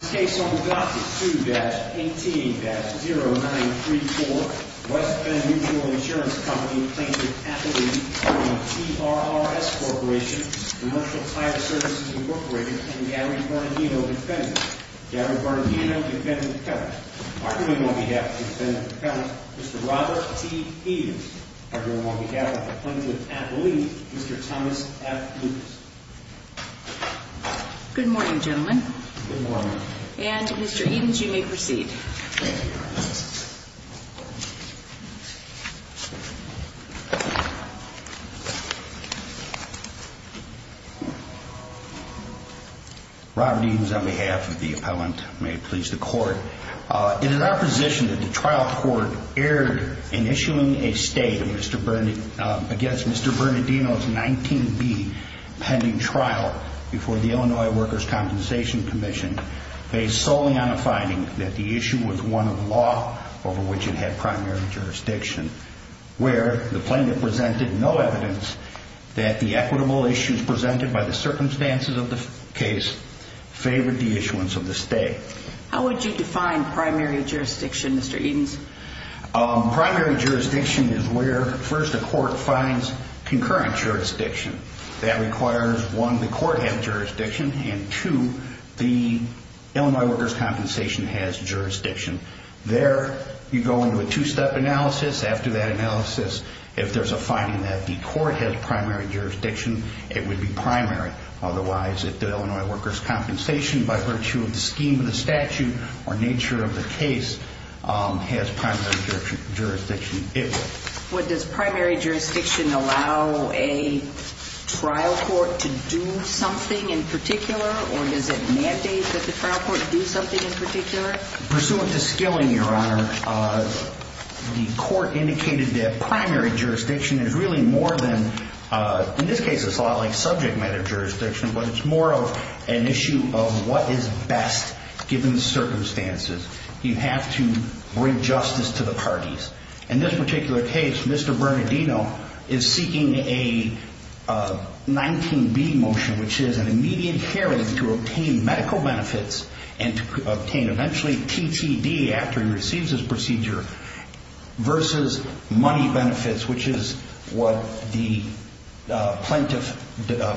2-18-0934 West Bend Mutual Insurance Company, Plaintiff's Appellee, TRRS Corporation, Commercial Tire Services Incorporated, and Gary Bernadino, Defendant. Gary Bernadino, Defendant, Appellant. Arguing on behalf of Defendant, Appellant, Mr. Robert T. Heath. Arguing on behalf of the Plaintiff's Appellee, Mr. Thomas F. Lucas. Good morning, gentlemen. Good morning. And, Mr. Edens, you may proceed. Robert Edens on behalf of the Appellant. May it please the Court. It is our position that the trial court erred in issuing a statement against Mr. Bernadino's 19B pending trial before the Illinois Workers' Compensation Commission based solely on a finding that the issue was one of law over which it had primary jurisdiction, where the Plaintiff presented no evidence that the equitable issues presented by the circumstances of the case favored the issuance of the state. How would you define primary jurisdiction, Mr. Edens? Primary jurisdiction is where, first, a court finds concurrent jurisdiction. That requires, one, the court has jurisdiction, and, two, the Illinois Workers' Compensation has jurisdiction. There, you go into a two-step analysis. After that analysis, if there's a finding that the court has primary jurisdiction, it would be primary. Otherwise, if the Illinois Workers' Compensation, by virtue of the scheme of the statute or nature of the case, has primary jurisdiction, it would. Well, does primary jurisdiction allow a trial court to do something in particular, or does it mandate that the trial court do something in particular? Pursuant to skilling, Your Honor, the court indicated that primary jurisdiction is really more than, in this case it's a lot like subject matter jurisdiction, but it's more of an issue of what is best given the circumstances. You have to bring justice to the parties. In this particular case, Mr. Bernardino is seeking a 19B motion, which is an immediate hearing to obtain medical benefits and to obtain, eventually, TTD after he receives his procedure versus money benefits, which is what the plaintiff,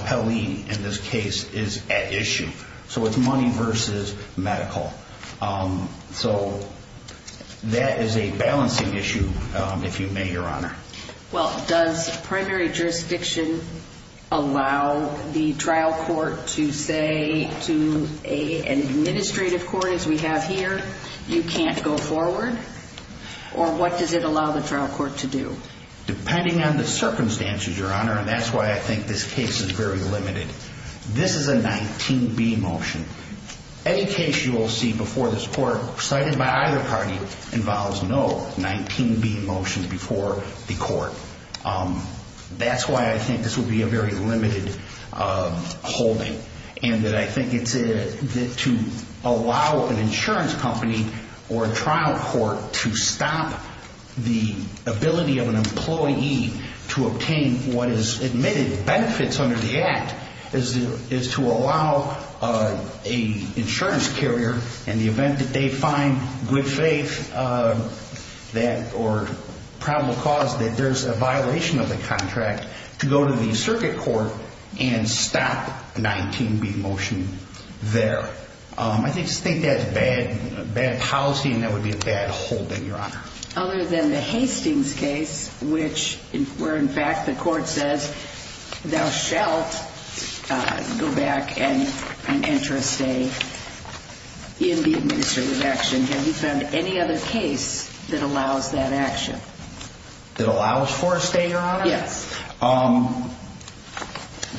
Pelley, in this case, is at issue. So it's money versus medical. So that is a balancing issue, if you may, Your Honor. Well, does primary jurisdiction allow the trial court to say to an administrative court, as we have here, you can't go forward, or what does it allow the trial court to do? Depending on the circumstances, Your Honor, and that's why I think this case is very limited, this is a 19B motion. Any case you will see before this court cited by either party involves no 19B motion before the court. That's why I think this would be a very limited holding, and that I think to allow an insurance company or a trial court to stop the ability of an employee to obtain what is admitted benefits under the Act is to allow an insurance carrier, in the event that they find good faith or probable cause that there's a violation of the contract, to go to the circuit court and stop 19B motion there. I just think that's bad policy, and that would be a bad holding, Your Honor. Other than the Hastings case, where, in fact, the court says, thou shalt go back and enter a stay in the administrative action, have you found any other case that allows that action? That allows for a stay, Your Honor? Yes.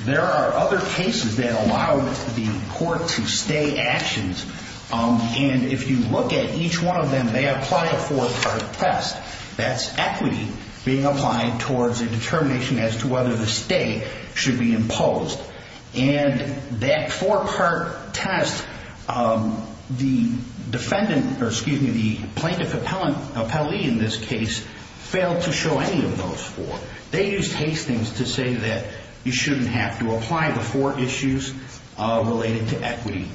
There are other cases that allow the court to stay actions, and if you look at each one of them, they apply a four-part test. That's equity being applied towards a determination as to whether the stay should be imposed, and that four-part test, the plaintiff appellee in this case failed to show any of those four. They used Hastings to say that you shouldn't have to apply the four issues related to equity,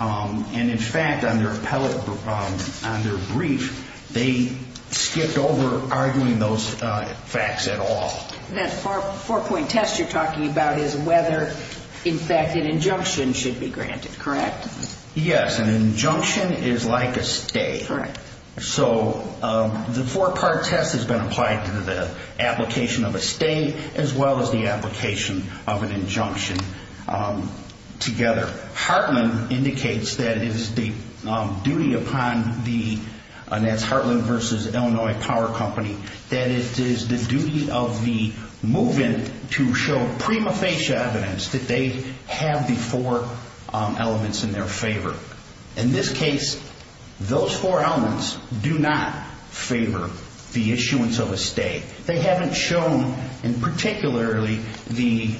and, in fact, on their brief, they skipped over arguing those facts at all. That four-point test you're talking about is whether, in fact, an injunction should be granted, correct? Yes, an injunction is like a stay. Correct. So the four-part test has been applied to the application of a stay as well as the application of an injunction together. Hartman indicates that it is the duty upon the Annette Hartman v. Illinois Power Company that it is the duty of the move-in to show prima facie evidence that they have the four elements in their favor. In this case, those four elements do not favor the issuance of a stay. They haven't shown, in particular, the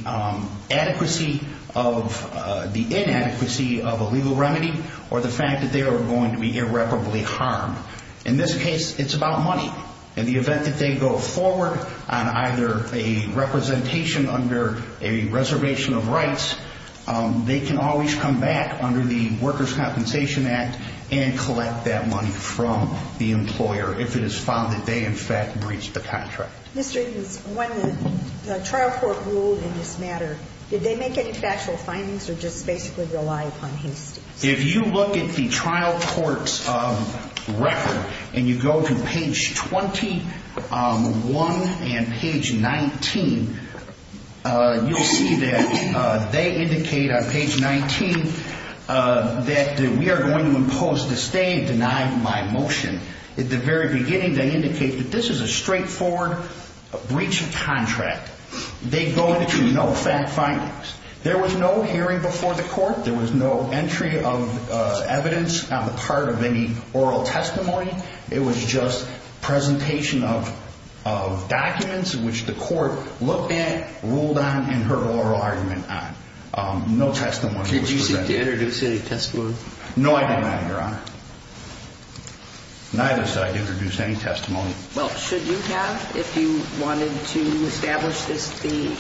inadequacy of a legal remedy or the fact that they are going to be irreparably harmed. In this case, it's about money. In the event that they go forward on either a representation under a reservation of rights, they can always come back under the Workers' Compensation Act and collect that money from the employer if it is found that they, in fact, breached the contract. Mr. Edens, when the trial court ruled in this matter, did they make any factual findings or just basically rely upon Hastings? If you look at the trial court's record and you go to page 21 and page 19, you'll see that they indicate on page 19 that we are going to impose the stay and deny my motion. At the very beginning, they indicate that this is a straightforward breach of contract. They go into no fact findings. There was no hearing before the court. There was no entry of evidence on the part of any oral testimony. It was just presentation of documents which the court looked at, ruled on, and heard an oral argument on. No testimony was presented. Did you introduce any testimony? No, I did not, Your Honor. Neither side introduced any testimony. Well, should you have if you wanted to establish this the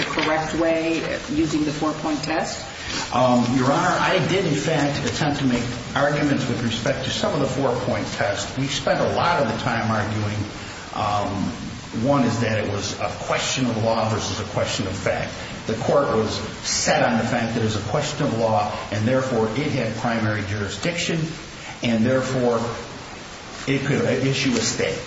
correct way using the four-point test? Your Honor, I did, in fact, attempt to make arguments with respect to some of the four-point tests. We spent a lot of the time arguing. One is that it was a question of law versus a question of fact. The court was set on the fact that it was a question of law, and therefore, it had primary jurisdiction, and therefore, it could issue a stay.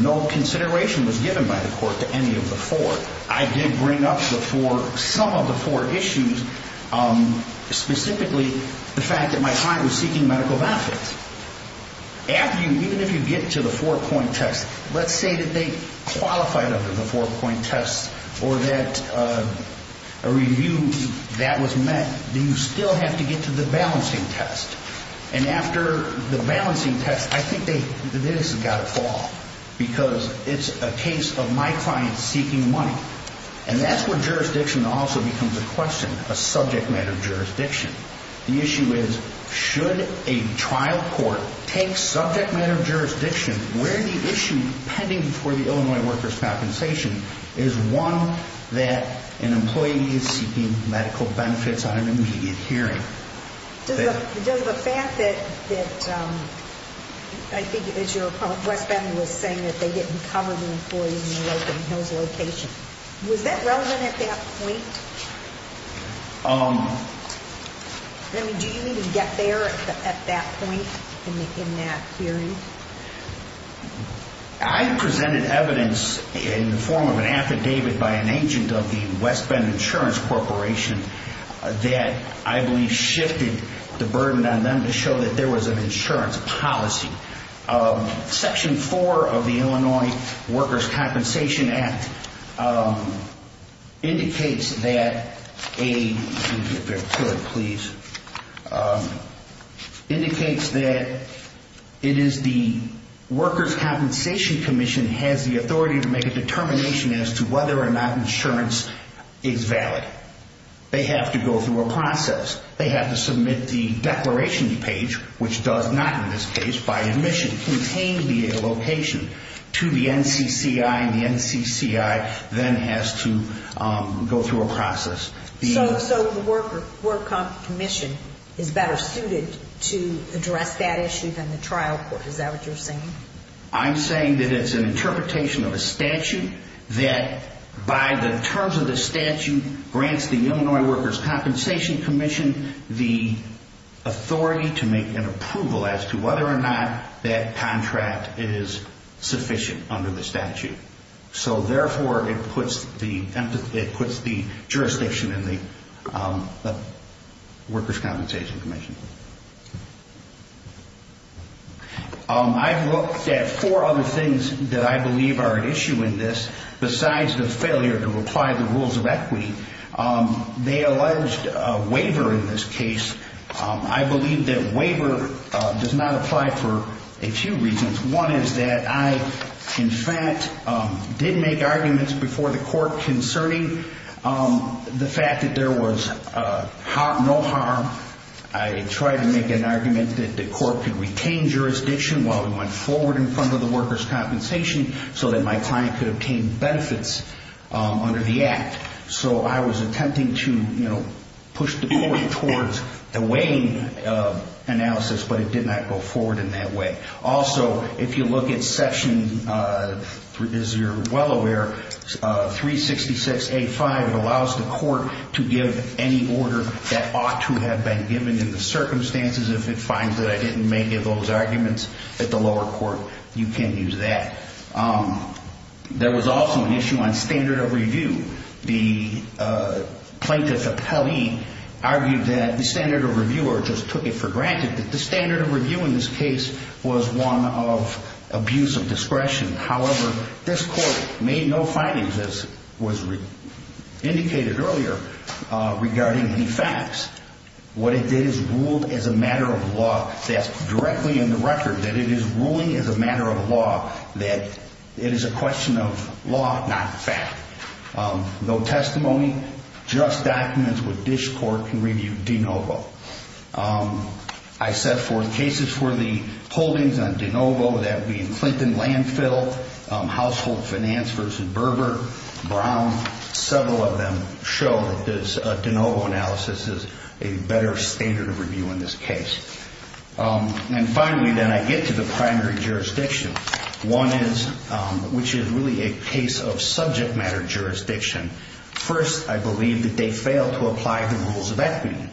No consideration was given by the court to any of the four. I did bring up some of the four issues, specifically the fact that my client was seeking medical benefits. Even if you get to the four-point test, let's say that they qualified under the four-point test or that a review that was met, then you still have to get to the balancing test. And after the balancing test, I think this has got to fall because it's a case of my client seeking money. And that's where jurisdiction also becomes a question, a subject matter of jurisdiction. The issue is should a trial court take subject matter of jurisdiction where the issue pending for the Illinois worker's compensation is one that an employee is seeking medical benefits on an immediate hearing. Just the fact that I think it was your West Bend was saying that they didn't cover the employee in the Lopen Hills location. Was that relevant at that point? I mean, do you even get there at that point in that hearing? I presented evidence in the form of an affidavit by an agent of the West Bend Insurance Corporation that I believe shifted the burden on them to show that there was an insurance policy. Section 4 of the Illinois Worker's Compensation Act indicates that a indicates that it is the worker's compensation commission has the authority to make a determination as to whether or not insurance is valid. They have to go through a process. They have to submit the declaration page, which does not in this case by admission contain the allocation to the NCCI. And the NCCI then has to go through a process. So the worker's commission is better suited to address that issue than the trial court. Is that what you're saying? I'm saying that it's an interpretation of a statute that by the terms of the statute grants the Illinois Worker's Compensation Commission the authority to make an approval as to whether or not that contract is sufficient under the statute. So therefore, it puts the jurisdiction in the worker's compensation commission. I've looked at four other things that I believe are an issue in this besides the failure to apply the rules of equity. They alleged a waiver in this case. I believe that waiver does not apply for a few reasons. One is that I, in fact, did make arguments before the court concerning the fact that there was no harm. I tried to make an argument that the court could retain jurisdiction while we went forward in front of the worker's compensation so that my client could obtain benefits under the act. So I was attempting to push the court towards a weighing analysis, but it did not go forward in that way. Also, if you look at section 366A.5, it allows the court to give any order that ought to have been given in the circumstances. If it finds that I didn't make those arguments at the lower court, you can use that. There was also an issue on standard of review. The plaintiff, Appellee, argued that the standard of review, or just took it for granted, that the standard of review in this case was one of abuse of discretion. However, this court made no findings, as was indicated earlier, regarding any facts. What it did is ruled as a matter of law. That's directly in the record, that it is ruling as a matter of law, that it is a question of law, not fact. No testimony, just documents with this court can review de novo. I set forth cases for the holdings on de novo, that being Clinton Landfill, Household Finance v. Berger, Brown. Several of them show that this de novo analysis is a better standard of review in this case. And finally, then, I get to the primary jurisdiction, which is really a case of subject matter jurisdiction. First, I believe that they failed to apply the rules of equity.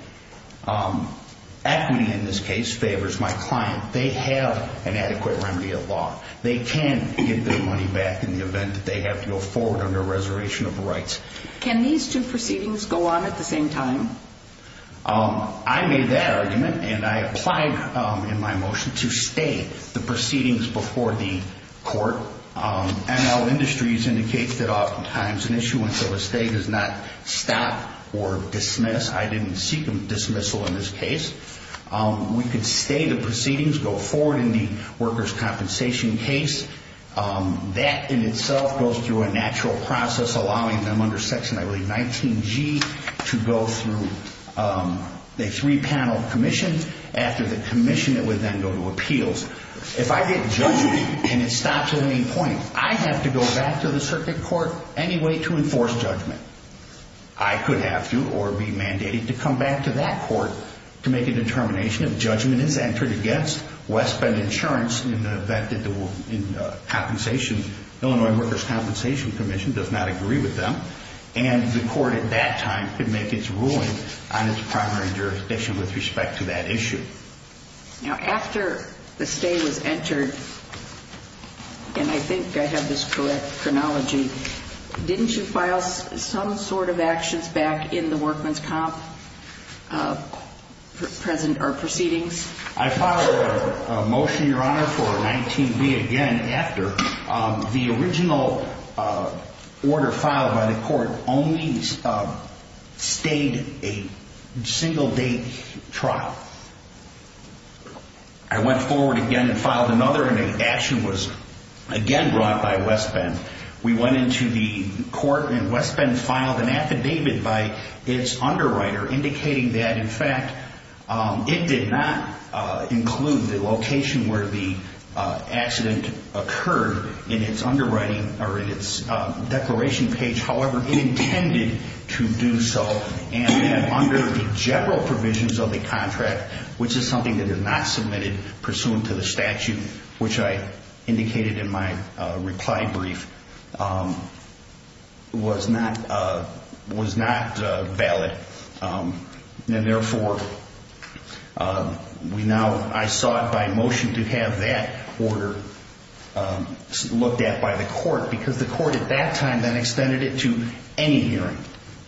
Equity, in this case, favors my client. They have an adequate remedy of law. They can get their money back in the event that they have to go forward under a reservation of rights. Can these two proceedings go on at the same time? I made that argument, and I applied in my motion to stay the proceedings before the court. ML Industries indicates that oftentimes an issuance of a stay does not stop or dismiss. I didn't seek a dismissal in this case. We could stay the proceedings, go forward in the workers' compensation case. That in itself goes through a natural process, allowing them under Section 19G to go through a three-panel commission. After the commission, it would then go to appeals. If I get judgment and it stops at any point, I have to go back to the circuit court anyway to enforce judgment. I could have to or be mandated to come back to that court to make a determination if judgment is entered against West Bend Insurance in the event that the Illinois Workers' Compensation Commission does not agree with them, and the court at that time could make its ruling on its primary jurisdiction with respect to that issue. Now, after the stay was entered, and I think I have this correct chronology, didn't you file some sort of actions back in the workmen's comp proceedings? I filed a motion, Your Honor, for 19B again after the original order filed by the court only stayed a single-day trial. I went forward again and filed another, and the action was again brought by West Bend. We went into the court, and West Bend filed an affidavit by its underwriter indicating that, in fact, it did not include the location where the accident occurred in its underwriting or in its declaration page. However, it intended to do so, and that under the general provisions of the contract, which is something that is not submitted pursuant to the statute, which I indicated in my reply brief, was not valid. And therefore, I sought by motion to have that order looked at by the court, because the court at that time then extended it to any hearing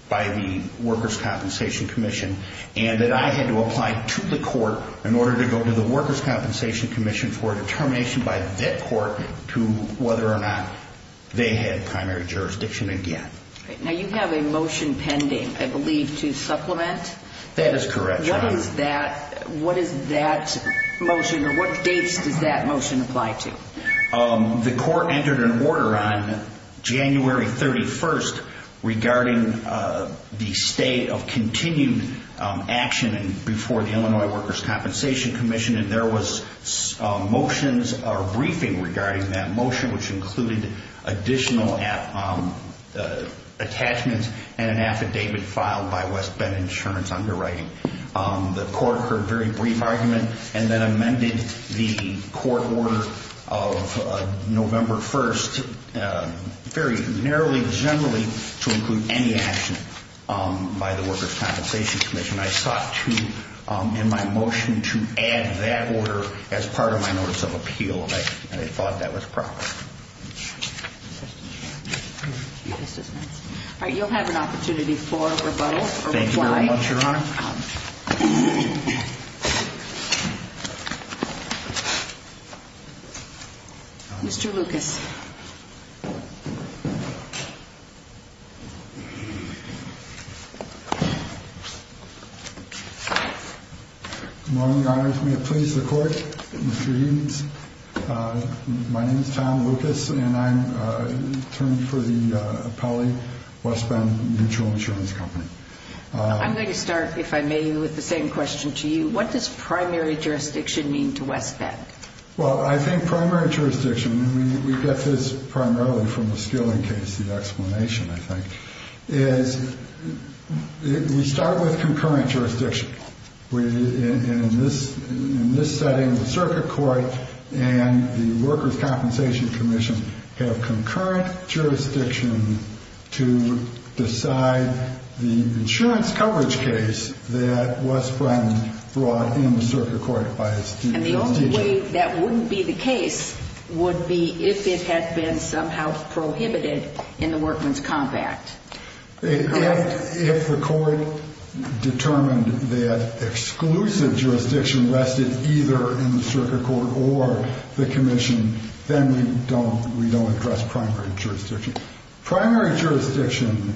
by the Workers' Compensation Commission, and that I had to apply to the court in order to go to the Workers' Compensation Commission for a determination by that court to whether or not they had primary jurisdiction again. Now, you have a motion pending, I believe, to supplement? That is correct, Your Honor. What is that motion, or what dates does that motion apply to? The court entered an order on January 31st regarding the state of continued action before the Illinois Workers' Compensation Commission, and there was motions or briefing regarding that motion, which included additional attachments and an affidavit filed by West Bend Insurance Underwriting. The court heard a very brief argument and then amended the court order of November 1st very narrowly, generally to include any action by the Workers' Compensation Commission. I sought to, in my motion, to add that order as part of my notice of appeal, and I thought that was proper. All right, you'll have an opportunity for rebuttal or reply. Thank you very much, Your Honor. Mr. Lucas. Good morning, Your Honor. If it may please the Court, Mr. Edens, my name is Tom Lucas, and I'm an attorney for the Pauley West Bend Mutual Insurance Company. I'm going to start, if I may, with the same question to you. What does primary jurisdiction mean to West Bend? Well, I think primary jurisdiction, and we get this primarily from the Skilling case, the explanation, I think, is we start with concurrent jurisdiction. In this setting, the circuit court and the Workers' Compensation Commission have concurrent jurisdiction to decide the insurance coverage case that West Bend brought in the circuit court by its team jurisdiction. And the only way that wouldn't be the case would be if it had been somehow prohibited in the Workmen's Compact. Correct. If the court determined that exclusive jurisdiction rested either in the circuit court or the commission, then we don't address primary jurisdiction. Primary jurisdiction,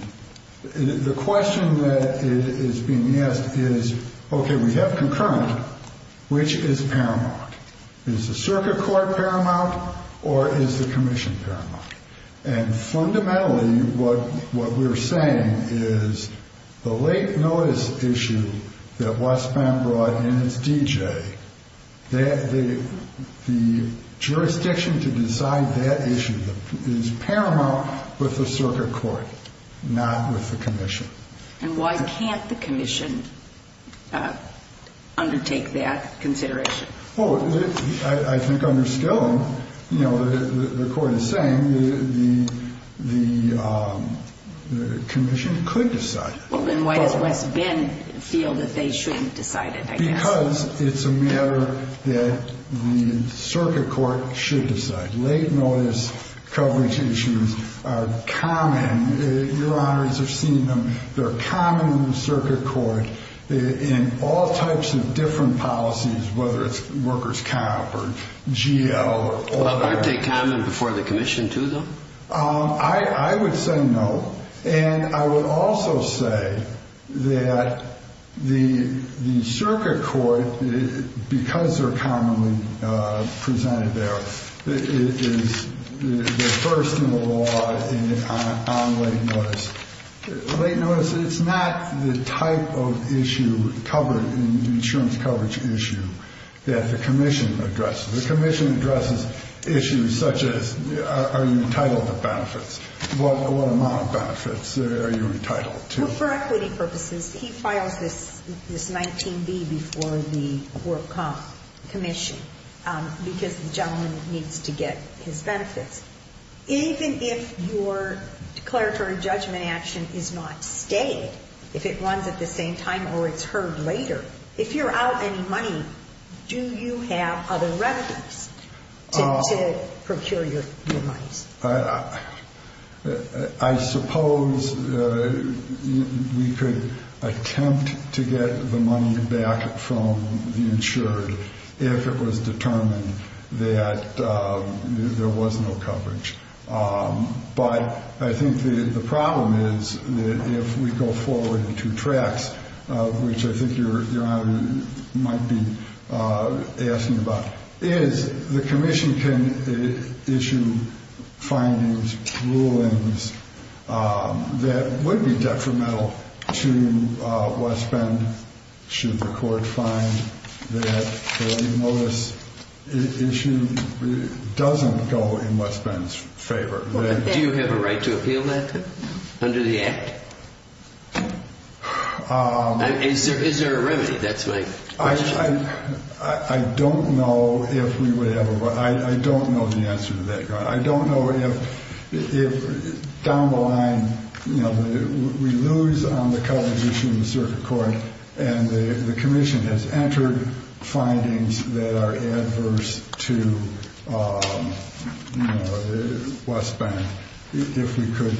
the question that is being asked is, okay, we have concurrent. Which is paramount? Is the circuit court paramount, or is the commission paramount? And fundamentally, what we're saying is the late notice issue that West Bend brought in its DJ, the jurisdiction to decide that issue is paramount with the circuit court, not with the commission. And why can't the commission undertake that consideration? Oh, I think under Skilling, you know, the court is saying the commission could decide it. Well, then why does West Bend feel that they shouldn't decide it, I guess? Because it's a matter that the circuit court should decide. Late notice coverage issues are common. Your Honors have seen them. They're common in the circuit court in all types of different policies, whether it's workers' comp or GL. Aren't they common before the commission, too, though? I would say no. And I would also say that the circuit court, because they're commonly presented there, is the first in the law on late notice. Late notice, it's not the type of issue covered in the insurance coverage issue that the commission addresses. The commission addresses issues such as are you entitled to benefits? What amount of benefits are you entitled to? Well, for equity purposes, he files this 19B before the work commission because the gentleman needs to get his benefits. Even if your declaratory judgment action is not stated, if it runs at the same time or it's heard later, if you're out any money, do you have other revenues to procure your monies? I suppose we could attempt to get the money back from the insured if it was determined that there was no coverage. But I think the problem is that if we go forward to tracks, which I think Your Honor might be asking about, is the commission can issue findings, rulings that would be detrimental to West Bend should the court find that a notice issue doesn't go in West Bend's favor. Do you have a right to appeal that under the act? Is there a remedy? That's my question. I don't know if we would ever. I don't know the answer to that, Your Honor. I don't know if down the line we lose on the coverage issue in the circuit court and the commission has entered findings that are adverse to West Bend. If we could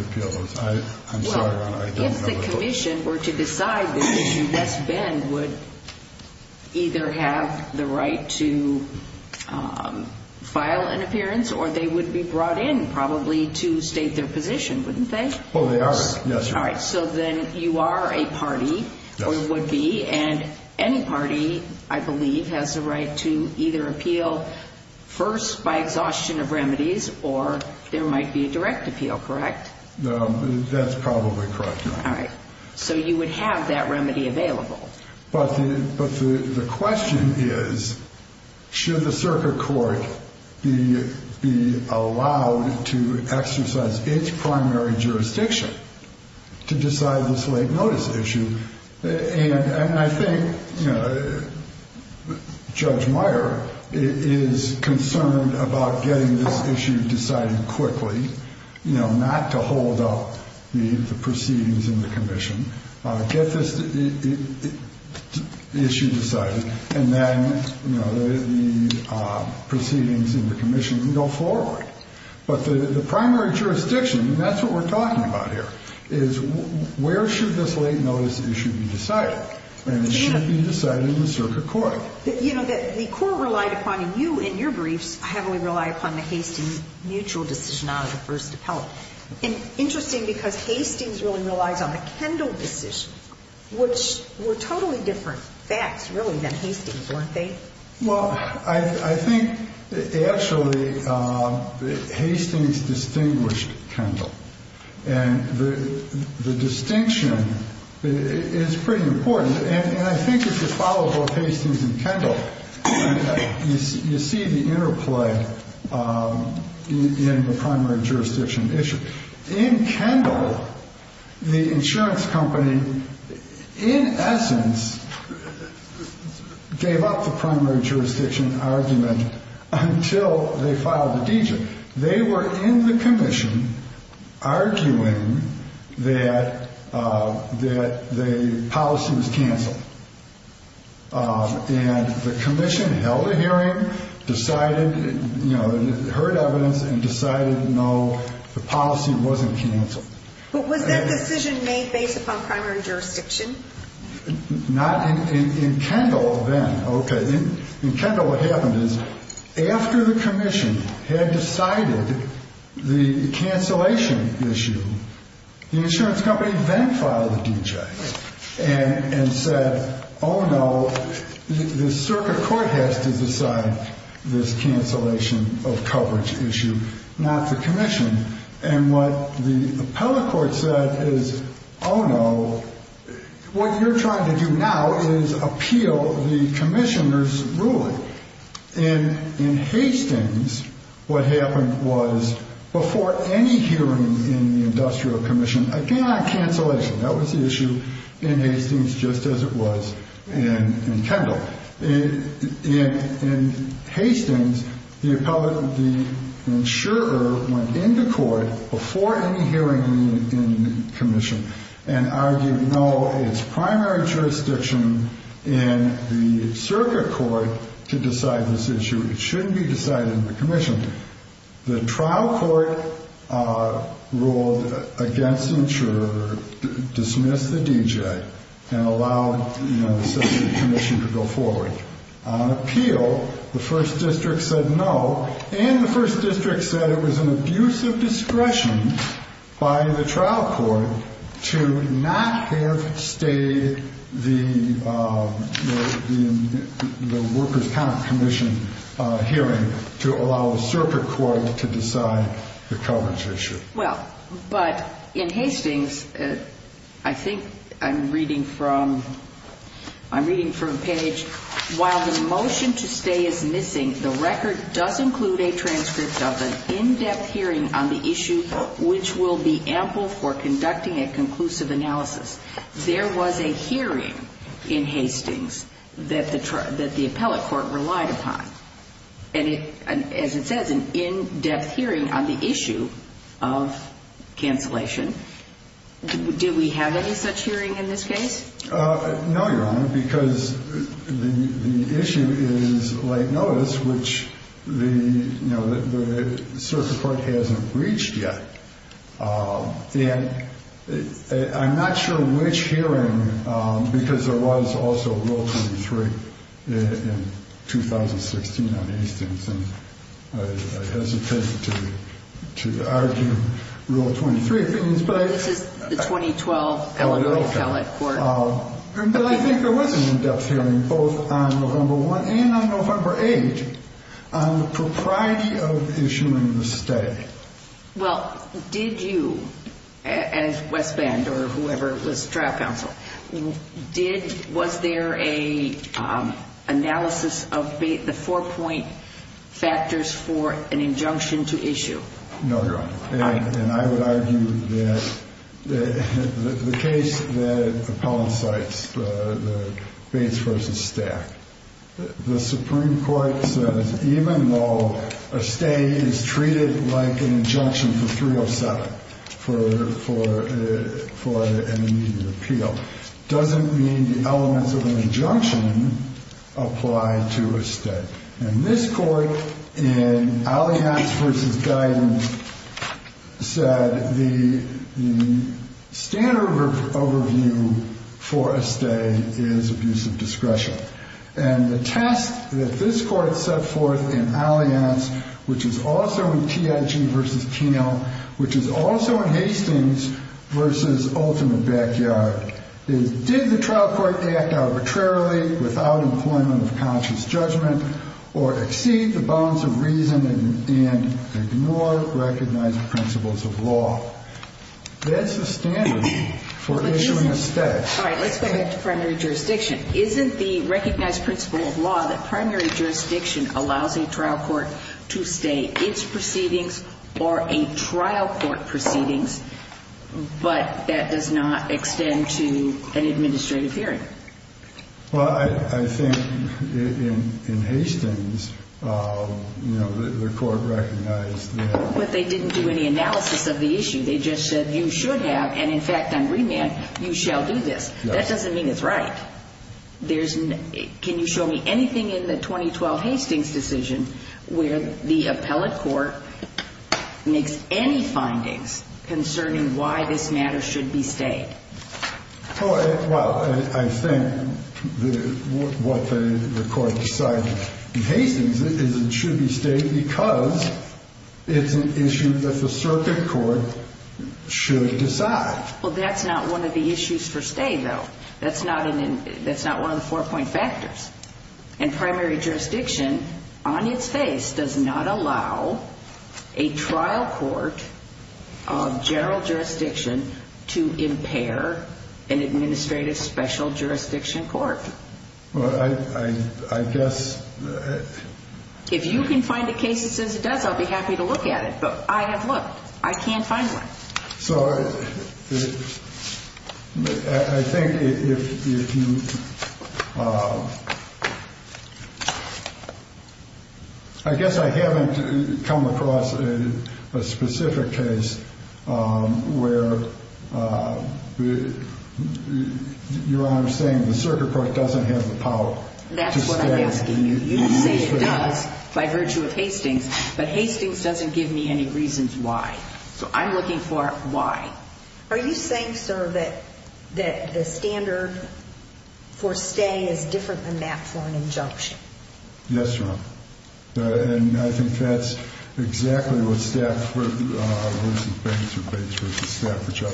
appeal those. I'm sorry, Your Honor. If the commission were to decide this issue, West Bend would either have the right to file an appearance or they would be brought in probably to state their position, wouldn't they? Oh, they are. Yes, Your Honor. All right. So then you are a party or would be and any party, I believe, has the right to either appeal first by exhaustion of remedies or there might be a direct appeal, correct? That's probably correct, Your Honor. All right. So you would have that remedy available. But the question is, should the circuit court be allowed to exercise its primary jurisdiction to decide this late notice issue? And I think Judge Meyer is concerned about getting this issue decided quickly, not to hold up the proceedings in the commission, get this issue decided, and then the proceedings in the commission go forward. But the primary jurisdiction, and that's what we're talking about here, is where should this late notice issue be decided? And it should be decided in the circuit court. You know, the court relied upon you in your briefs, heavily relied upon the Hastings mutual decision out of the first appellate. And interesting because Hastings really relies on the Kendall decision, which were totally different facts, really, than Hastings, weren't they? Well, I think actually Hastings distinguished Kendall. And the distinction is pretty important. And I think if you follow both Hastings and Kendall, you see the interplay in the primary jurisdiction issue. In Kendall, the insurance company, in essence, gave up the primary jurisdiction argument until they filed a deejay. They were in the commission arguing that the policy was canceled. And the commission held a hearing, decided, you know, heard evidence, and decided, no, the policy wasn't canceled. But was that decision made based upon primary jurisdiction? Not in Kendall then. Okay. In Kendall, what happened is after the commission had decided the cancellation issue, the insurance company then filed a deejay. And said, oh, no, the circuit court has to decide this cancellation of coverage issue, not the commission. And what the appellate court said is, oh, no, what you're trying to do now is appeal the commissioner's ruling. So in Hastings, what happened was before any hearing in the industrial commission, again on cancellation, that was the issue in Hastings just as it was in Kendall. In Hastings, the insurer went into court before any hearing in the commission and argued, no, it's primary jurisdiction in the circuit court to decide this issue. It shouldn't be decided in the commission. The trial court ruled against the insurer, dismissed the deejay, and allowed the circuit commission to go forward. On appeal, the first district said no. And the first district said it was an abuse of discretion by the trial court to not have stayed the workers' comp commission hearing to allow the circuit court to decide the coverage issue. Well, but in Hastings, I think I'm reading from page, while the motion to stay is missing, the record does include a transcript of an in-depth hearing on the issue which will be ample for conducting a conclusive analysis. There was a hearing in Hastings that the appellate court relied upon. And as it says, an in-depth hearing on the issue of cancellation. Did we have any such hearing in this case? No, Your Honor, because the issue is late notice, which the circuit court hasn't reached yet. And I'm not sure which hearing, because there was also Rule 23 in 2016 on Hastings, and I hesitate to argue Rule 23. This is the 2012 appellate court. But I think there was an in-depth hearing both on November 1 and on November 8 on the propriety of issuing the stay. Well, did you, as West Bend or whoever was trial counsel, was there an analysis of the four point factors for an injunction to issue? No, Your Honor. And I would argue that the case that appellate cites, the Bates v. Stack, the Supreme Court says even though a stay is treated like an injunction for 307 for an immediate appeal, doesn't mean the elements of an injunction apply to a stay. And this court, in Allianz v. Guidance, said the standard overview for a stay is abuse of discretion. And the test that this court set forth in Allianz, which is also in TIG v. Keenel, which is also in Hastings v. Ultimate Backyard, is did the trial court act arbitrarily without employment of conscious judgment or exceed the bounds of reason and ignore recognized principles of law? That's the standard for issuing a stay. All right. Let's go back to primary jurisdiction. Isn't the recognized principle of law that primary jurisdiction allows a trial court to stay its proceedings or a trial court proceedings, but that does not extend to an administrative hearing? Well, I think in Hastings, you know, the court recognized that. But they didn't do any analysis of the issue. They just said you should have, and in fact, on remand, you shall do this. That doesn't mean it's right. Can you show me anything in the 2012 Hastings decision where the appellate court makes any findings concerning why this matter should be stayed? Well, I think what the court decided in Hastings is it should be stayed because it's an issue that the circuit court should decide. Well, that's not one of the issues for stay, though. That's not one of the four point factors. And primary jurisdiction on its face does not allow a trial court of general jurisdiction to impair an administrative special jurisdiction court. Well, I guess. If you can find a case that says it does, I'll be happy to look at it. But I have looked. I can't find one. So I think if you. I guess I haven't come across a specific case where you are saying the circuit court doesn't have the power. That's what I'm asking you. You say it does by virtue of Hastings. But Hastings doesn't give me any reasons why. So I'm looking for why. Are you saying, sir, that the standard for stay is different than that for an injunction? Yes, ma'am. And I think that's exactly what staff versus banks or banks versus staff would show.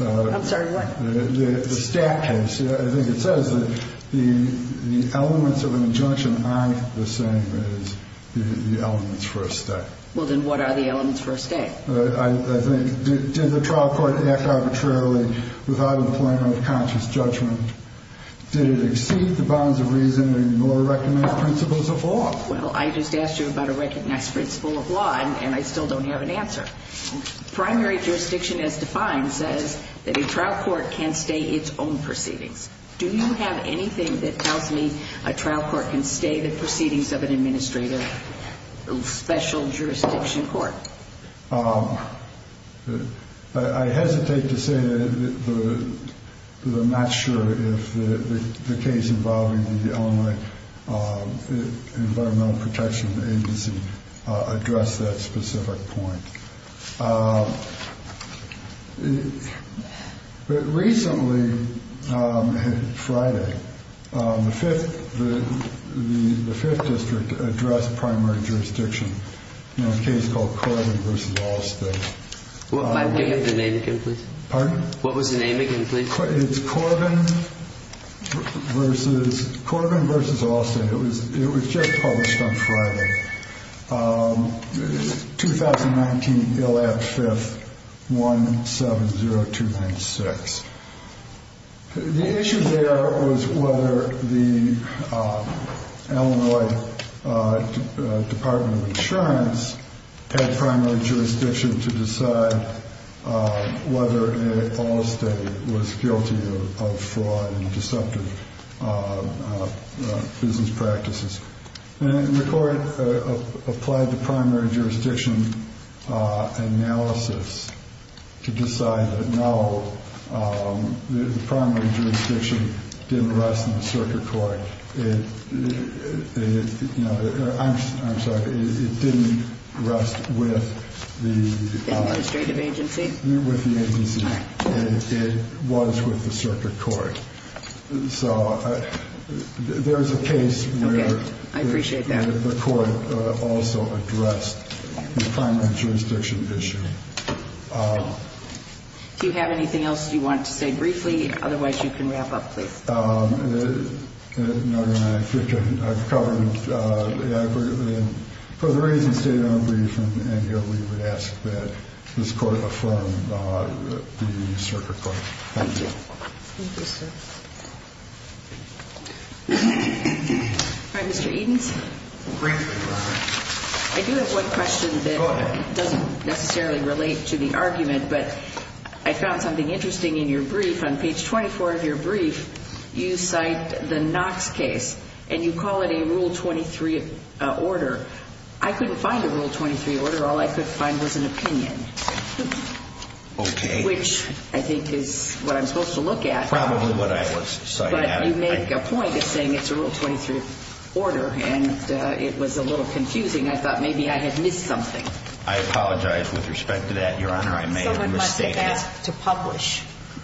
I'm sorry, what? The staff case. I think it says that the elements of an injunction aren't the same as the elements for a stay. Well, then what are the elements for a stay? I think, did the trial court act arbitrarily without employment of conscious judgment? Did it exceed the bounds of reasoning or recognize principles of law? Well, I just asked you about a recognized principle of law, and I still don't have an answer. Primary jurisdiction as defined says that a trial court can stay its own proceedings. Do you have anything that tells me a trial court can stay the proceedings of an administrator special jurisdiction court? I hesitate to say that I'm not sure if the case involving the Illinois Environmental Protection Agency addressed that specific point. But recently, Friday, the 5th District addressed primary jurisdiction in a case called Corbin v. Allstate. What might be the name again, please? Pardon? What was the name again, please? It's Corbin v. Allstate. It was just published on Friday. It's 2019, ILADD 5th, 170296. The issue there was whether the Illinois Department of Insurance had primary jurisdiction to decide whether Allstate was guilty of fraud and deceptive business practices. And the court applied the primary jurisdiction analysis to decide that no, the primary jurisdiction didn't rest in the circuit court. It, you know, I'm sorry, it didn't rest with the... Administrative agency. With the agency. It was with the circuit court. So there was a case where the court also addressed the primary jurisdiction issue. Do you have anything else you want to say briefly? Otherwise, you can wrap up, please. No, Your Honor, I think I've covered... For the reasons stated on the brief and here, we would ask that this court affirm the circuit court. Thank you. Thank you, sir. All right, Mr. Edens. Briefly, Your Honor. I do have one question that doesn't necessarily relate to the argument, but I found something interesting in your brief. On page 24 of your brief, you cite the Knox case, and you call it a Rule 23 order. I couldn't find a Rule 23 order. All I could find was an opinion. Okay. Which I think is what I'm supposed to look at. Probably what I was citing. But you make a point of saying it's a Rule 23 order, and it was a little confusing. I thought maybe I had missed something. I apologize. With respect to that, Your Honor, I made a mistake. Someone must have asked to publish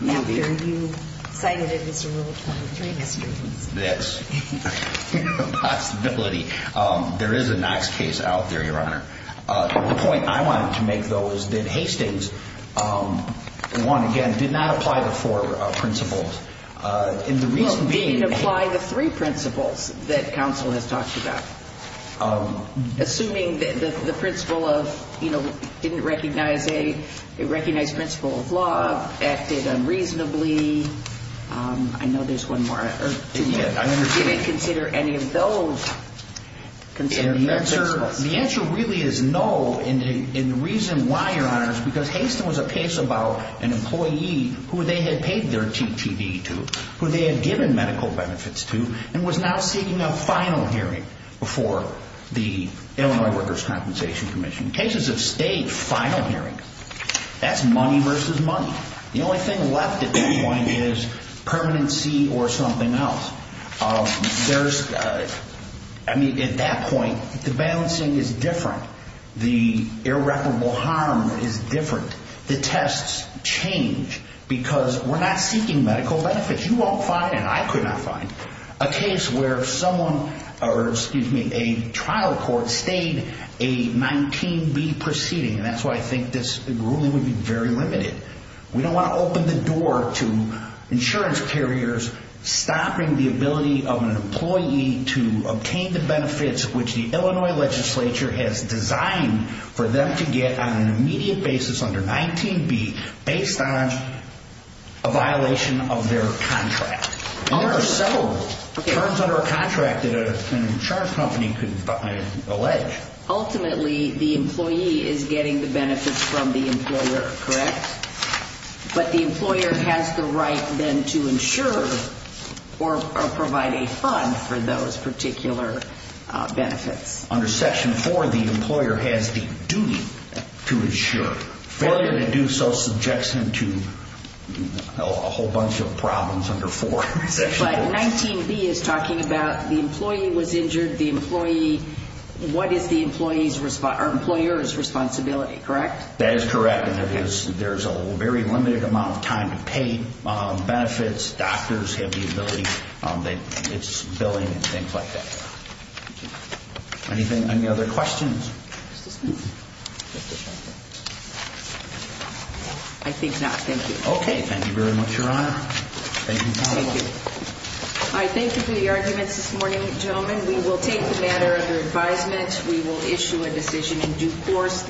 after you cited it as a Rule 23, Mr. Edens. That's a possibility. There is a Knox case out there, Your Honor. The point I wanted to make, though, is that Hastings, one, again, did not apply the four principles. Well, it did apply the three principles that counsel has talked about. Assuming the principle of, you know, didn't recognize a recognized principle of law, acted unreasonably. I know there's one more. Didn't consider any of those principles. The answer really is no. And the reason why, Your Honor, is because Hastings was a case about an employee who they had paid their TTV to, who they had given medical benefits to, and was now seeking a final hearing before the Illinois Workers' Compensation Commission. Cases of state final hearings. That's money versus money. The only thing left at that point is permanency or something else. There's, I mean, at that point, the balancing is different. The irreparable harm is different. The tests change because we're not seeking medical benefits. You won't find, and I could not find, a case where someone or, excuse me, a trial court stayed a 19B proceeding. And that's why I think this ruling would be very limited. We don't want to open the door to insurance carriers stopping the ability of an employee to obtain the benefits, which the Illinois legislature has designed for them to get on an immediate basis under 19B based on a violation of their contract. There are several terms under a contract that an insurance company could allege. Ultimately, the employee is getting the benefits from the employer, correct? But the employer has the right then to insure or provide a fund for those particular benefits. Under Section 4, the employer has the duty to insure. Failure to do so subjects him to a whole bunch of problems under Section 4. But 19B is talking about the employee was injured, the employee, what is the employer's responsibility, correct? That is correct. There's a very limited amount of time to pay benefits. Doctors have the ability. It's billing and things like that. Any other questions? I think not. Thank you. Okay. Thank you very much, Your Honor. Thank you. Thank you. All right. Thank you for the arguments this morning, gentlemen. We will take the matter under advisement. We will issue a decision in due course.